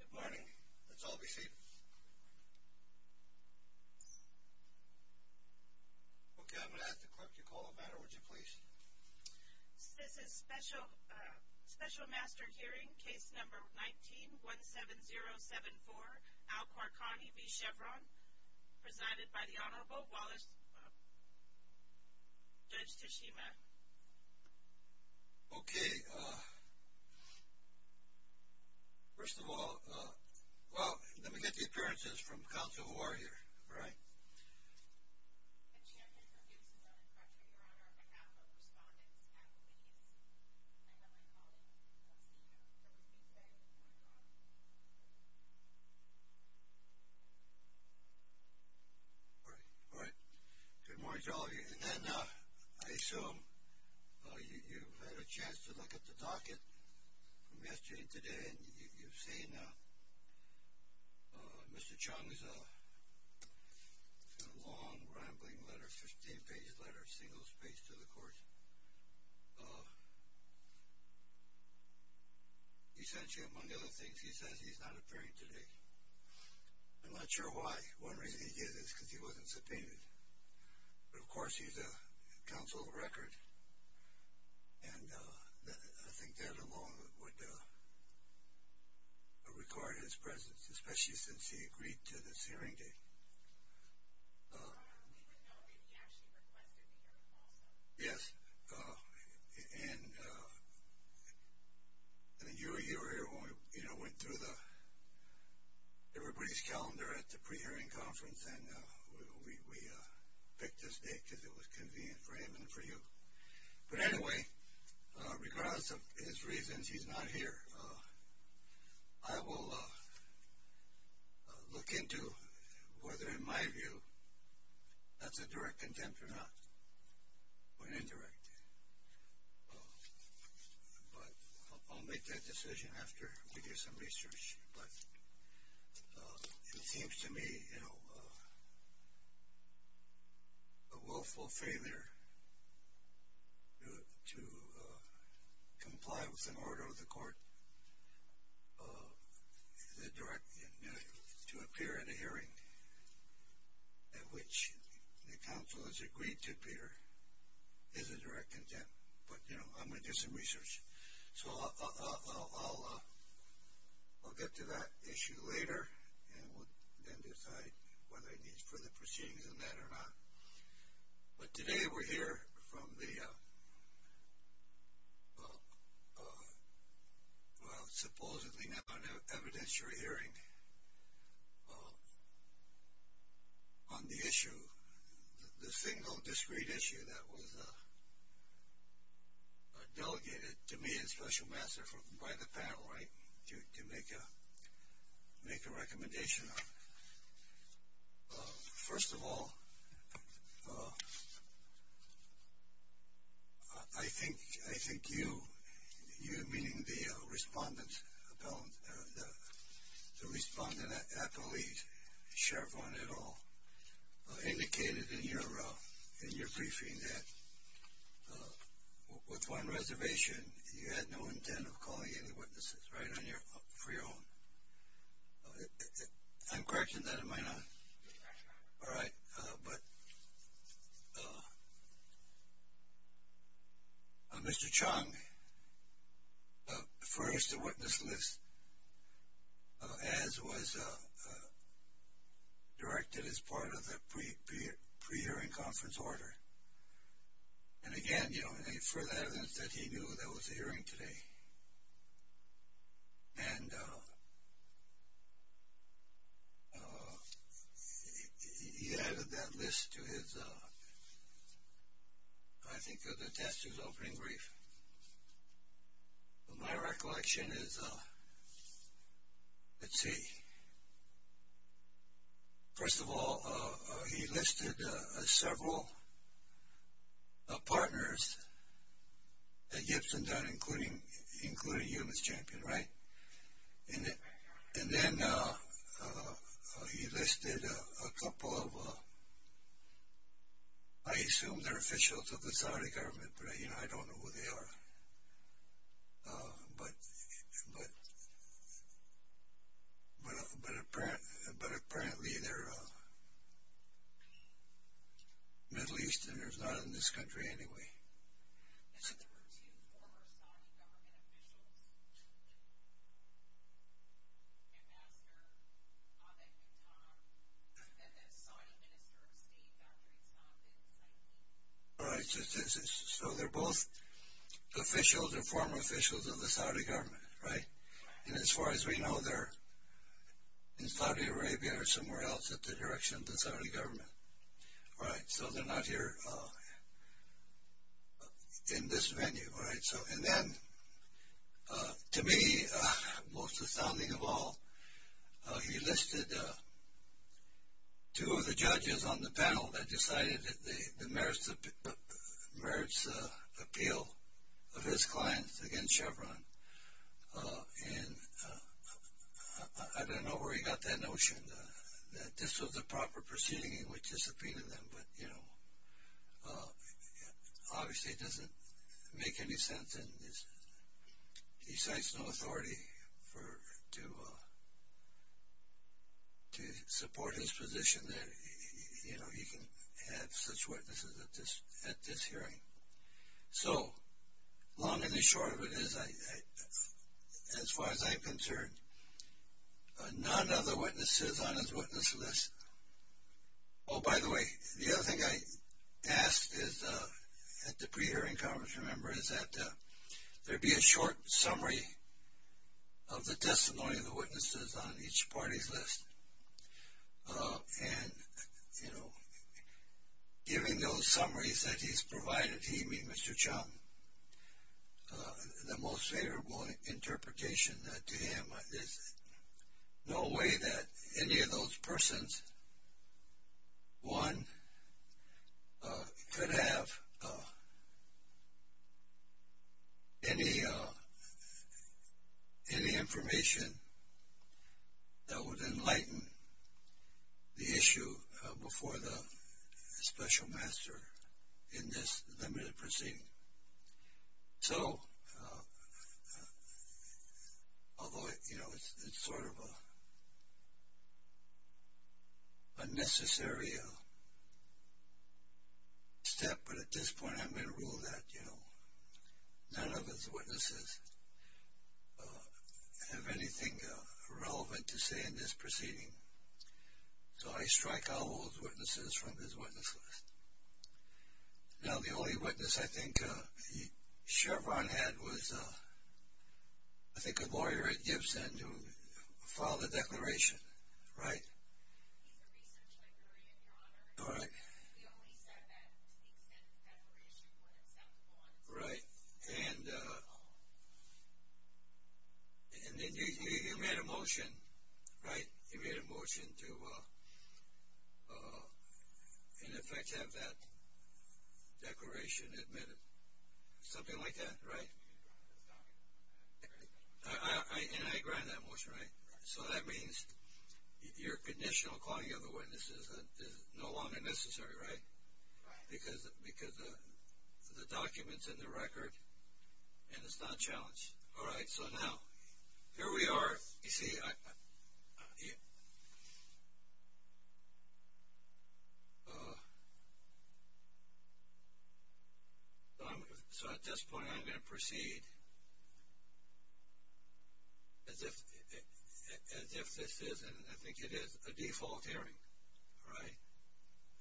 Good morning. Let's all be seated. Okay, I'm going to ask the clerk to call the matter, would you please? This is Special Master Hearing Case Number 19-17074, Al-Qarqani v. Chevron, presided by the Honorable Judge Tashima. Okay, first of all, let me get the appearances from counsel who are here. All right. All right. Good morning to all of you. And then, I assume you've had a chance to look at the docket from yesterday to today, and you've seen Mr. Chung's long, rambling letter, 15-page letter, single-spaced to the court. Essentially, among other things, he says he's not appearing today. I'm not sure why. One reason he did is because he wasn't subpoenaed. But, of course, he's a counsel of record, and I think that alone would require his presence, especially since he agreed to this hearing date. I don't even know if he actually requested the hearing also. Yes, and you were here when we went through everybody's calendar at the pre-hearing conference, and we picked this date because it was convenient for him and for you. But anyway, regardless of his reasons, he's not here. I will look into whether, in my view, that's a direct contempt or not, or an indirect. But I'll make that decision after we do some research. But it seems to me a willful failure to comply with an order of the court is a direct contempt. To appear at a hearing at which the counsel has agreed to appear is a direct contempt. But I'm going to do some research. So I'll get to that issue later, and we'll then decide whether he needs further proceedings on that or not. But today we're here from the supposedly not evidentiary hearing on the issue, the single discrete issue that was delegated to me as special master by the panel, right, to make a recommendation on. First of all, I think you, meaning the respondent appellate, Chevron et al., indicated in your briefing that with one reservation, you had no intent of calling any witnesses, right, for your own. I'm correcting that, am I not? All right. But Mr. Chong, first a witness list, as was directed as part of the pre-hearing conference order. And again, you know, any further evidence that he knew there was a hearing today. And he added that list to his, I think, to the test of his opening brief. My recollection is, let's see. First of all, he listed several partners at Gibson, including you, Ms. Champion, right? And then he listed a couple of, I assume they're officials of the Saudi government, but I don't know who they are. But apparently they're Middle Easterners, not in this country anyway. All right, so they're both officials or former officials of the Saudi government, right? And as far as we know, they're in Saudi Arabia or somewhere else at the direction of the Saudi government, right? So they're not here in this venue, right? And then, to me, most astounding of all, he listed two of the judges on the panel that decided the merits appeal of his clients against Chevron. And I don't know where he got that notion, that this was the proper proceeding in which to subpoena them. But, you know, obviously it doesn't make any sense. And he cites no authority to support his position that he can have such witnesses at this hearing. So, long and short of it is, as far as I'm concerned, none of the witnesses on his witness list. Oh, by the way, the other thing I asked at the pre-hearing conference, remember, is that there be a short summary of the testimony of the witnesses on each party's list. And, you know, giving those summaries that he's provided to me, Mr. Chung, the most favorable interpretation to him is no way that any of those persons, one, could have any information that would enlighten the issue before the special master in this limited proceeding. So, although, you know, it's sort of a necessary step, but at this point I'm going to rule that, you know, none of his witnesses have anything relevant to say in this proceeding. So I strike out all his witnesses from his witness list. Now, the only witness I think Chevron had was, I think, a lawyer at Gibson who filed a declaration, right? All right. Right. And then you made a motion, right? You made a motion to, in effect, have that declaration admitted. Something like that, right? And I granted that motion, right? So that means your conditional calling of the witnesses is no longer necessary, right? Right. Because the document's in the record and it's not challenged. All right. So now, here we are. You see, so at this point I'm going to proceed as if this is, and I think it is, a default hearing, right?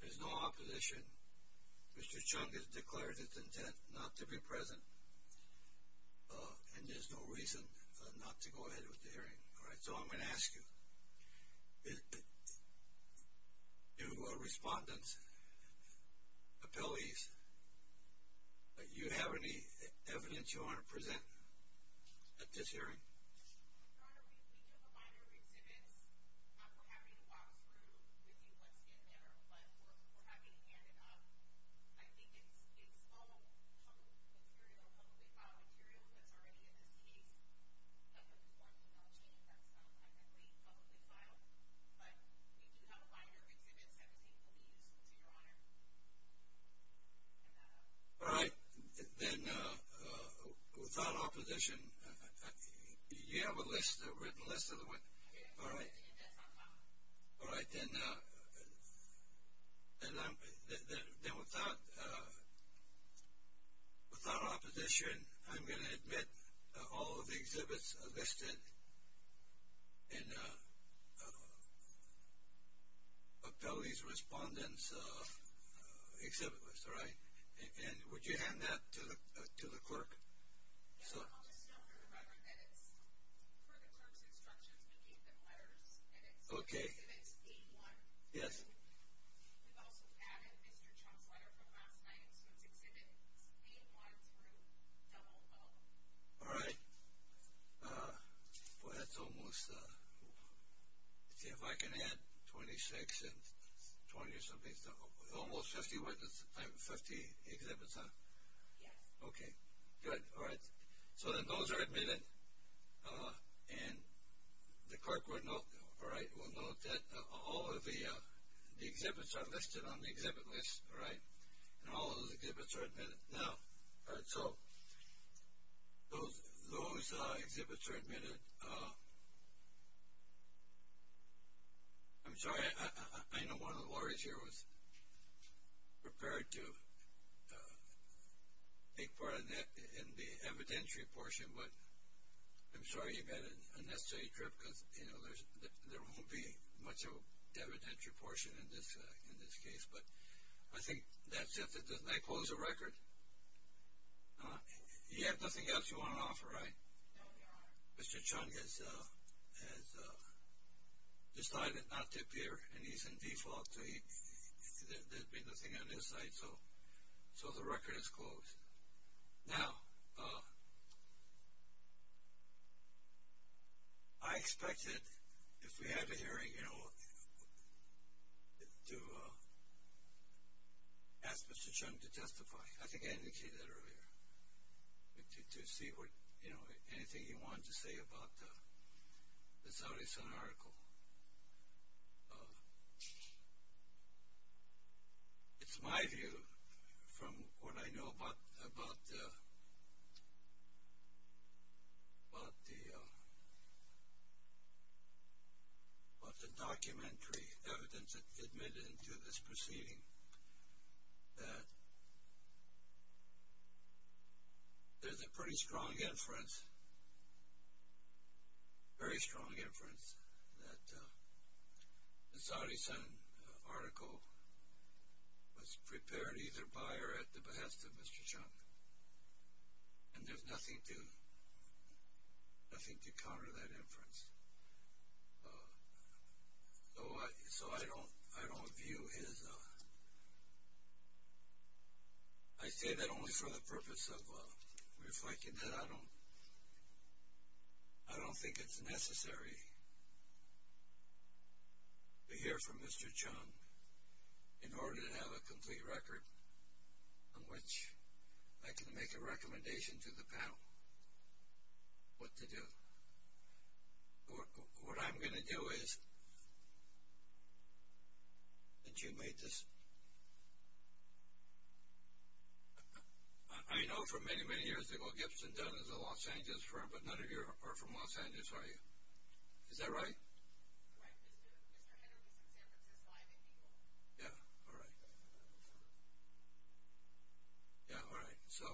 There's no opposition. Mr. Chung has declared his intent not to be present and there's no reason not to go ahead with the hearing. All right. So I'm going to ask you, do respondents, appellees, you have any evidence you want to present at this hearing? Your Honor, we do have a line of exhibits. We're happy to walk through with you what's in there, but we're happy to hand it up. I think it's all publicly material, publicly filed material that's already in this case. Other forms of knowledge that's not technically publicly filed. But we do have a line of exhibits that we think will be useful to Your Honor. All right. Then without opposition, do you have a list, a written list of the ones? All right. All right. Then without opposition, I'm going to admit all of the exhibits are listed in appellee's respondents' exhibit list. All right. And would you hand that to the clerk? Yes. I'll just note for the record that it's for the clerk's instructions, we gave them letters. Okay. And it's exhibit 81. Yes. We've also added Mr. Chung's letter from last night, and so it's exhibit 81 through 00. All right. Boy, that's almost, let's see if I can add 26 and 20 or something. Almost 50 exhibits, huh? Yes. Okay. Good. All right. So then those are admitted, and the clerk will note that all of the exhibits are listed on the exhibit list. All right. And all of those exhibits are admitted now. All right. So those exhibits are admitted. And I'm sorry, I know one of the lawyers here was prepared to take part in the evidentiary portion, but I'm sorry you've had an unnecessary trip because, you know, there won't be much of an evidentiary portion in this case. But I think that's it. Did I close the record? You have nothing else you want to offer, right? No, there aren't. Mr. Chung has decided not to appear, and he's in default, so there'd be nothing on his side, so the record is closed. Now, I expected, if we had a hearing, you know, to ask Mr. Chung to testify. I think I indicated that earlier, to see, you know, anything he wanted to say about the Saudi Sun article. It's my view, from what I know about the documentary evidence admitted into this proceeding, that there's a pretty strong inference, very strong inference, that the Saudi Sun article was prepared either by or at the behest of Mr. Chung, and there's nothing to counter that inference. So I don't view his, I say that only for the purpose of reflecting that I don't think it's necessary to hear from Mr. Chung in order to have a complete record on which I can make a recommendation to the panel what to do. What I'm going to do is, and you made this, I know for many, many years ago Gibson Dunn is a Los Angeles firm, but none of you are from Los Angeles, are you? Is that right? Right, Mr. Henry's in San Francisco. Yeah, all right. Yeah, all right. So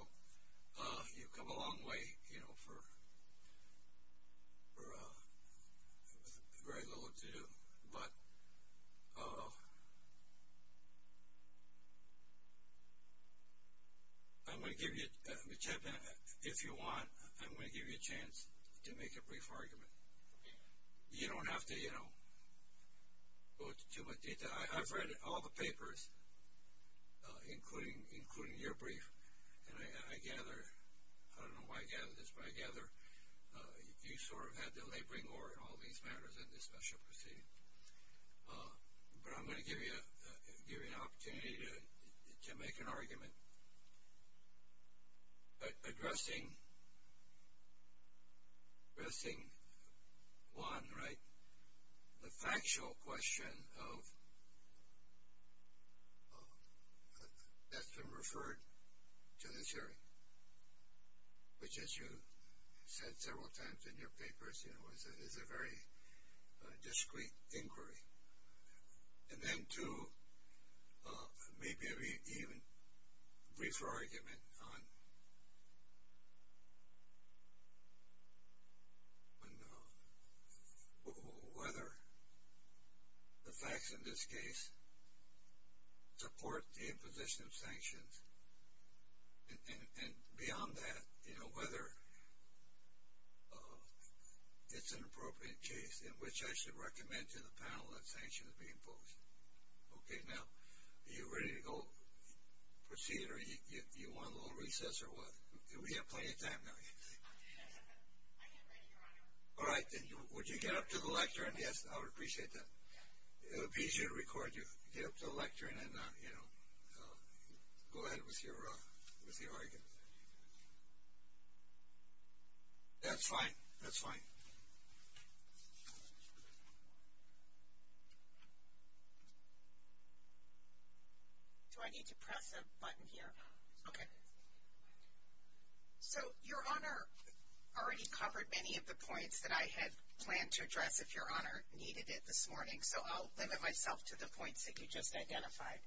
you've come a long way, you know, for very little to do. But I'm going to give you, if you want, I'm going to give you a chance to make a brief argument. You don't have to, you know, go into too much detail. I've read all the papers, including your brief, and I gather, I don't know why I gather this, but I gather you sort of had the laboring oar in all these matters in this special proceeding. But I'm going to give you an opportunity to make an argument addressing one, right, the factual question that's been referred to this hearing, which as you said several times in your papers, you know, is a very discreet inquiry. And then two, maybe even a briefer argument on whether the facts in this case support the imposition of sanctions and beyond that, you know, whether it's an appropriate case in which I should recommend to the panel that sanctions be imposed. Okay, now, are you ready to go proceed, or do you want a little recess or what? We have plenty of time now. All right, then would you get up to the lectern? Yes, I would appreciate that. It would be easier to record you. Get up to the lectern and, you know, go ahead with your argument. That's fine. That's fine. Do I need to press a button here? Okay. So your Honor already covered many of the points that I had planned to address if your Honor needed it this morning, so I'll limit myself to the points that you just identified.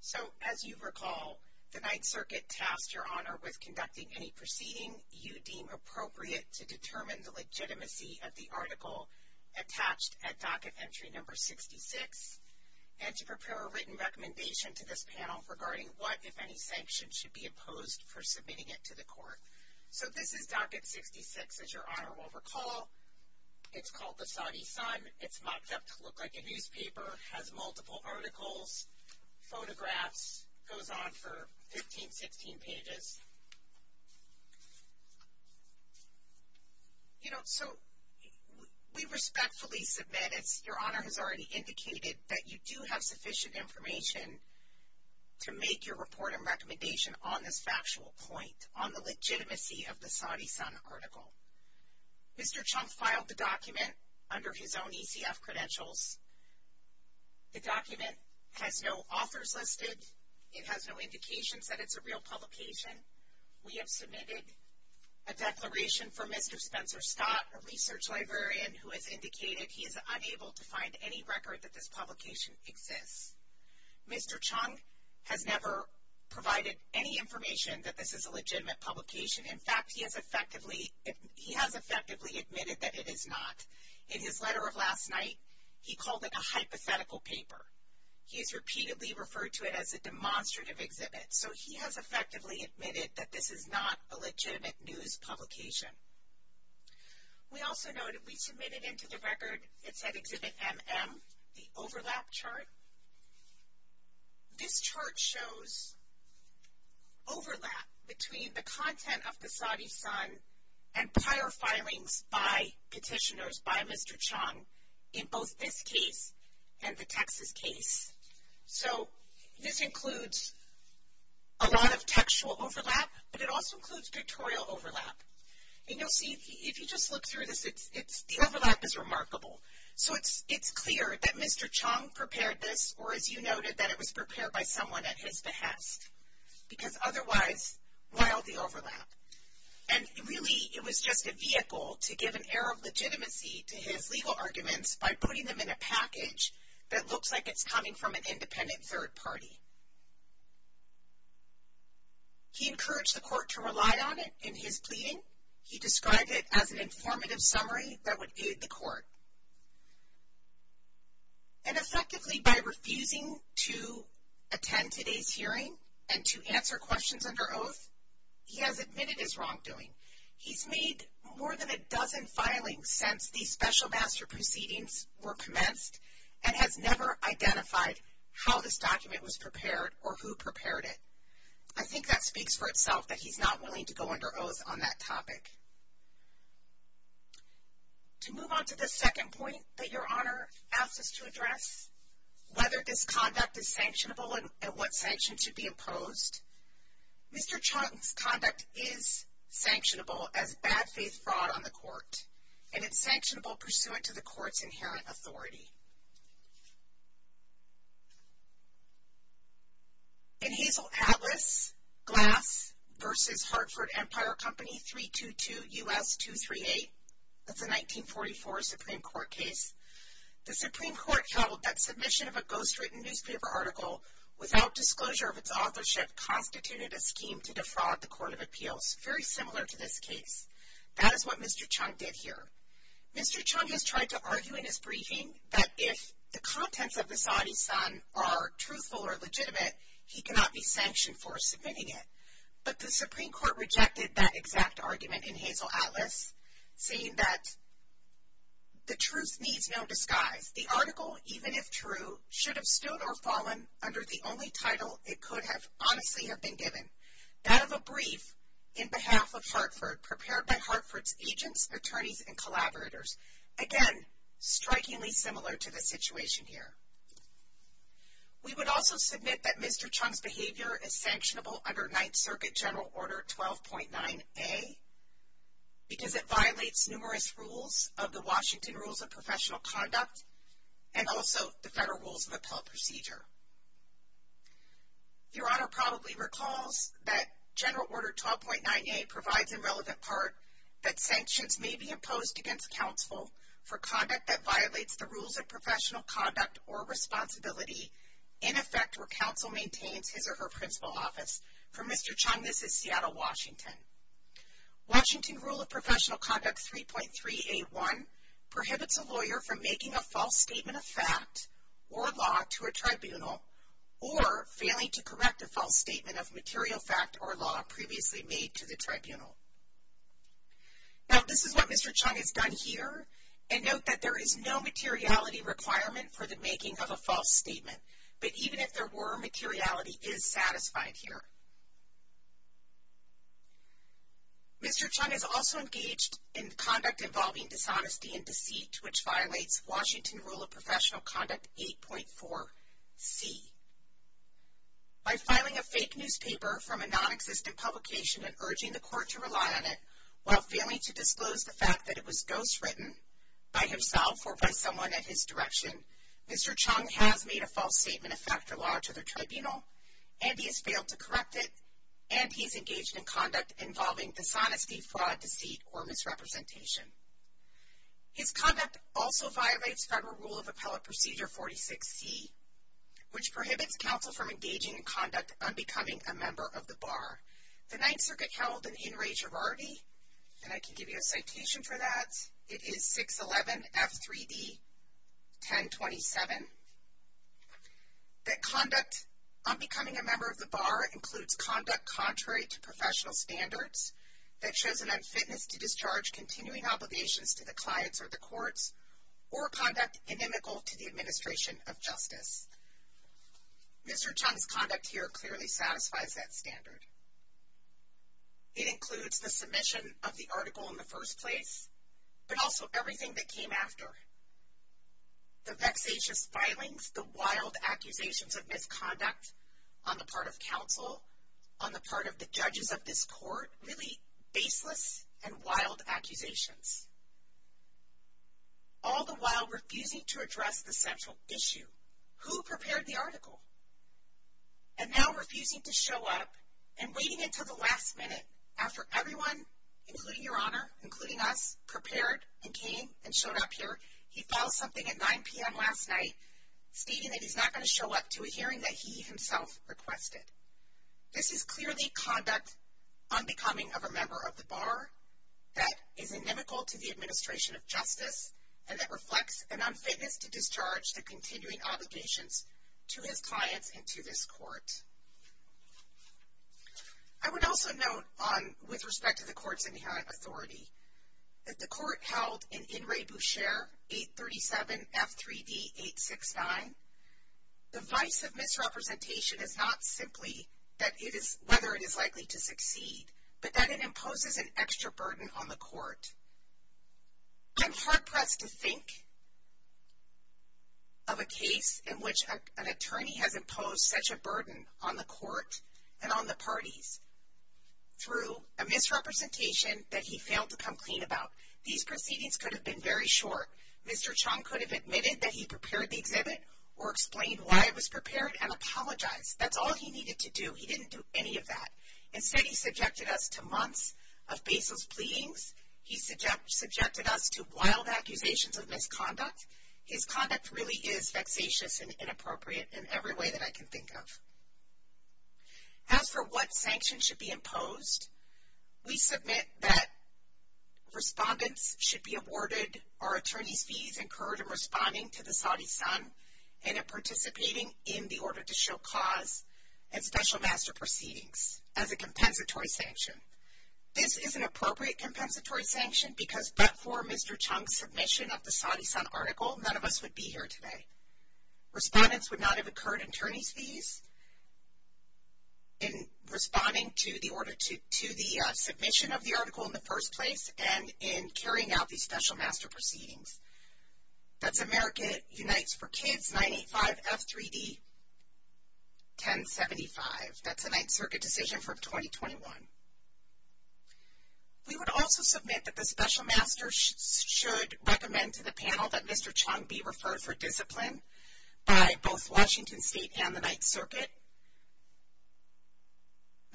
So as you recall, the Ninth Circuit tasked your Honor with conducting any proceeding you deem appropriate to determine the legitimacy of the article attached at docket entry number 66 and to prepare a written recommendation to this panel regarding what, if any, sanctions should be imposed for submitting it to the court. So this is docket 66, as your Honor will recall. It's called the Saudi Sun. It's mocked up to look like a newspaper. It has multiple articles, photographs. It goes on for 15, 16 pages. You know, so we respectfully submit, as your Honor has already indicated, that you do have sufficient information to make your report and recommendation on this factual point, on the legitimacy of the Saudi Sun article. Mr. Chunk filed the document under his own ECF credentials. The document has no authors listed. It has no indications that it's a real publication. We have submitted a declaration from Mr. Spencer Scott, a research librarian, who has indicated he is unable to find any record that this publication exists. Mr. Chunk has never provided any information that this is a legitimate publication. In fact, he has effectively admitted that it is not. In his letter of last night, he called it a hypothetical paper. He has repeatedly referred to it as a demonstrative exhibit. So he has effectively admitted that this is not a legitimate news publication. We also noted we submitted into the record, it said Exhibit MM, the overlap chart. This chart shows overlap between the content of the Saudi Sun and prior filings by petitioners by Mr. Chunk in both this case and the Texas case. So this includes a lot of textual overlap, but it also includes pictorial overlap. And you'll see, if you just look through this, the overlap is remarkable. So it's clear that Mr. Chunk prepared this, or as you noted, that it was prepared by someone at his behest. Because otherwise, why all the overlap? And really, it was just a vehicle to give an air of legitimacy to his legal arguments by putting them in a package that looks like it's coming from an independent third party. He encouraged the court to rely on it in his pleading. He described it as an informative summary that would aid the court. And effectively, by refusing to attend today's hearing and to answer questions under oath, he has admitted his wrongdoing. He's made more than a dozen filings since these special master proceedings were commenced and has never identified how this document was prepared or who prepared it. I think that speaks for itself that he's not willing to go under oath on that topic. To move on to the second point that Your Honor asked us to address, whether this conduct is sanctionable and what sanctions should be imposed, Mr. Chunk's conduct is sanctionable as bad faith fraud on the court. And it's sanctionable pursuant to the court's inherent authority. In Hazel Atlas Glass v. Hartford Empire Company 322 U.S. 238, that's a 1944 Supreme Court case, the Supreme Court held that submission of a ghostwritten newspaper article without disclosure of its authorship constituted a scheme to defraud the Court of Appeals. Very similar to this case. That is what Mr. Chunk did here. Mr. Chunk has tried to argue in his briefing that if the contents of the Saudi Sun are truthful or legitimate, he cannot be sanctioned for submitting it. But the Supreme Court rejected that exact argument in Hazel Atlas, saying that the truth needs no disguise. The article, even if true, should have stood or fallen under the only title it could have honestly have been given. That of a brief in behalf of Hartford, prepared by Hartford's agents, attorneys, and collaborators. Again, strikingly similar to the situation here. We would also submit that Mr. Chunk's behavior is sanctionable under Ninth Circuit General Order 12.9a because it violates numerous rules of the Washington Rules of Professional Conduct and also the Federal Rules of Appellate Procedure. Your Honor probably recalls that General Order 12.9a provides in relevant part that sanctions may be imposed against counsel for conduct that violates the Rules of Professional Conduct or Responsibility in effect where counsel maintains his or her principal office. For Mr. Chunk, this is Seattle, Washington. Washington Rule of Professional Conduct 3.3a.1 prohibits a lawyer from making a false statement of fact or law to a tribunal or failing to correct a false statement of material fact or law previously made to the tribunal. Now, this is what Mr. Chunk has done here. And note that there is no materiality requirement for the making of a false statement. But even if there were, materiality is satisfied here. Mr. Chunk is also engaged in conduct involving dishonesty and deceit which violates Washington Rule of Professional Conduct 8.4c. By filing a fake newspaper from a nonexistent publication and urging the court to rely on it while failing to disclose the fact that it was ghostwritten by himself or by someone at his direction, Mr. Chunk has made a false statement of fact or law to the tribunal, and he has failed to correct it, and he is engaged in conduct involving dishonesty, fraud, deceit, or misrepresentation. His conduct also violates Federal Rule of Appellate Procedure 46c which prohibits counsel from engaging in conduct unbecoming a member of the bar. The Ninth Circuit held in Enrage of Artie, and I can give you a citation for that. It is 611F3D1027. That conduct unbecoming a member of the bar includes conduct contrary to professional standards that shows an unfitness to discharge continuing obligations to the clients or the courts Mr. Chunk's conduct here clearly satisfies that standard. It includes the submission of the article in the first place, but also everything that came after. The vexatious filings, the wild accusations of misconduct on the part of counsel, on the part of the judges of this court, really baseless and wild accusations. All the while refusing to address the central issue. Who prepared the article? And now refusing to show up and waiting until the last minute after everyone, including Your Honor, including us, prepared and came and showed up here. He filed something at 9 p.m. last night stating that he's not going to show up to a hearing that he himself requested. This is clearly conduct unbecoming of a member of the bar that is inimical to the administration of justice and that reflects an unfitness to discharge the continuing obligations to his clients and to this court. I would also note with respect to the court's inherent authority that the court held in In Re Boucher 837F3D869, the vice of misrepresentation is not simply whether it is likely to succeed, but that it imposes an extra burden on the court. I'm hard-pressed to think of a case in which an attorney has imposed such a burden on the court and on the parties through a misrepresentation that he failed to come clean about. These proceedings could have been very short. Mr. Chung could have admitted that he prepared the exhibit or explained why it was prepared and apologized. That's all he needed to do. He didn't do any of that. Instead, he subjected us to months of baseless pleadings. He subjected us to wild accusations of misconduct. His conduct really is vexatious and inappropriate in every way that I can think of. As for what sanctions should be imposed, we submit that respondents should be awarded or attorney's fees incurred in responding to the Saudi Sun and in participating in the Order to Show Cause and Special Master Proceedings as a compensatory sanction. This is an appropriate compensatory sanction because but for Mr. Chung's submission of the Saudi Sun article, none of us would be here today. Respondents would not have incurred attorney's fees in responding to the submission of the article in the first place and in carrying out the Special Master Proceedings. That's America Unites for Kids, 985 F3D 1075. That's a Ninth Circuit decision from 2021. We would also submit that the Special Master should recommend to the panel that Mr. Chung be referred for discipline by both Washington State and the Ninth Circuit.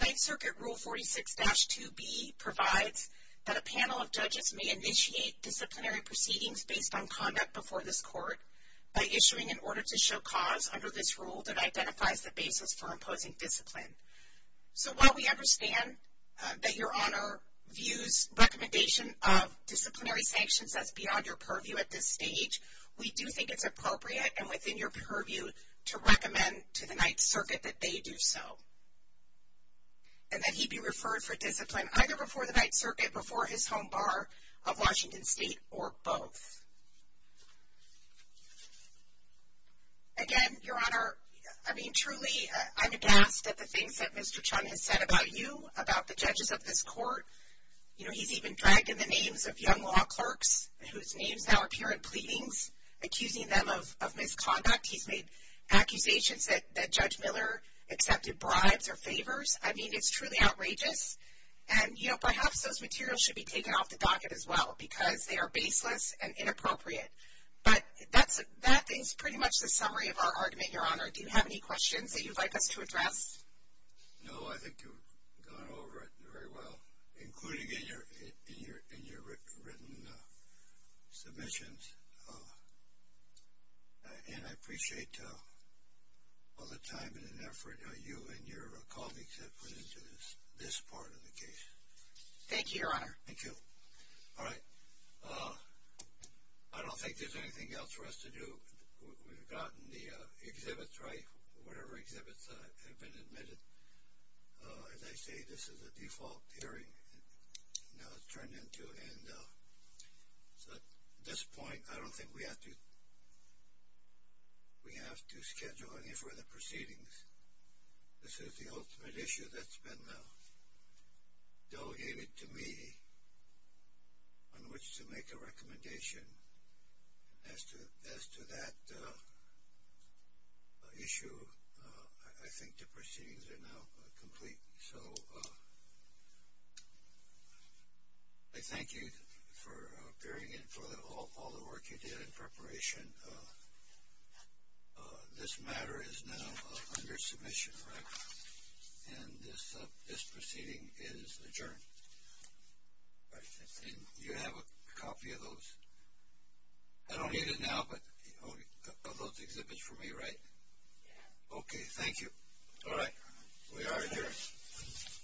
Ninth Circuit Rule 46-2B provides that a panel of judges may initiate disciplinary proceedings based on conduct before this court by issuing an Order to Show Cause under this rule that identifies the basis for imposing discipline. So while we understand that Your Honor views recommendation of disciplinary sanctions as beyond your purview at this stage, we do think it's appropriate and within your purview to recommend to the Ninth Circuit that they do so and that he be referred for discipline either before the Ninth Circuit, before his home bar of Washington State, or both. Again, Your Honor, I mean, truly, I'm aghast at the things that Mr. Chung has said about you, about the judges of this court. You know, he's even dragged in the names of young law clerks whose names now appear in pleadings, accusing them of misconduct. He's made accusations that Judge Miller accepted bribes or favors. I mean, it's truly outrageous. And, you know, perhaps those materials should be taken off the docket as well because they are baseless and inappropriate. But that is pretty much the summary of our argument, Your Honor. Do you have any questions that you'd like us to address? No, I think you've gone over it very well, including in your written submissions. And I appreciate all the time and effort you and your colleagues have put into this part of the case. Thank you, Your Honor. Thank you. All right. I don't think there's anything else for us to do. We've gotten the exhibits right, whatever exhibits have been admitted. As I say, this is a default hearing. Now it's turned into an end. So at this point, I don't think we have to schedule any further proceedings. This is the ultimate issue that's been delegated to me on which to make a recommendation. As to that issue, I think the proceedings are now complete. So I thank you for appearing and for all the work you did in preparation. This matter is now under submission, right? And this proceeding is adjourned. Right. And you have a copy of those? I don't need it now, but you've got those exhibits for me, right? Yeah. Okay. Thank you. All right. We are adjourned.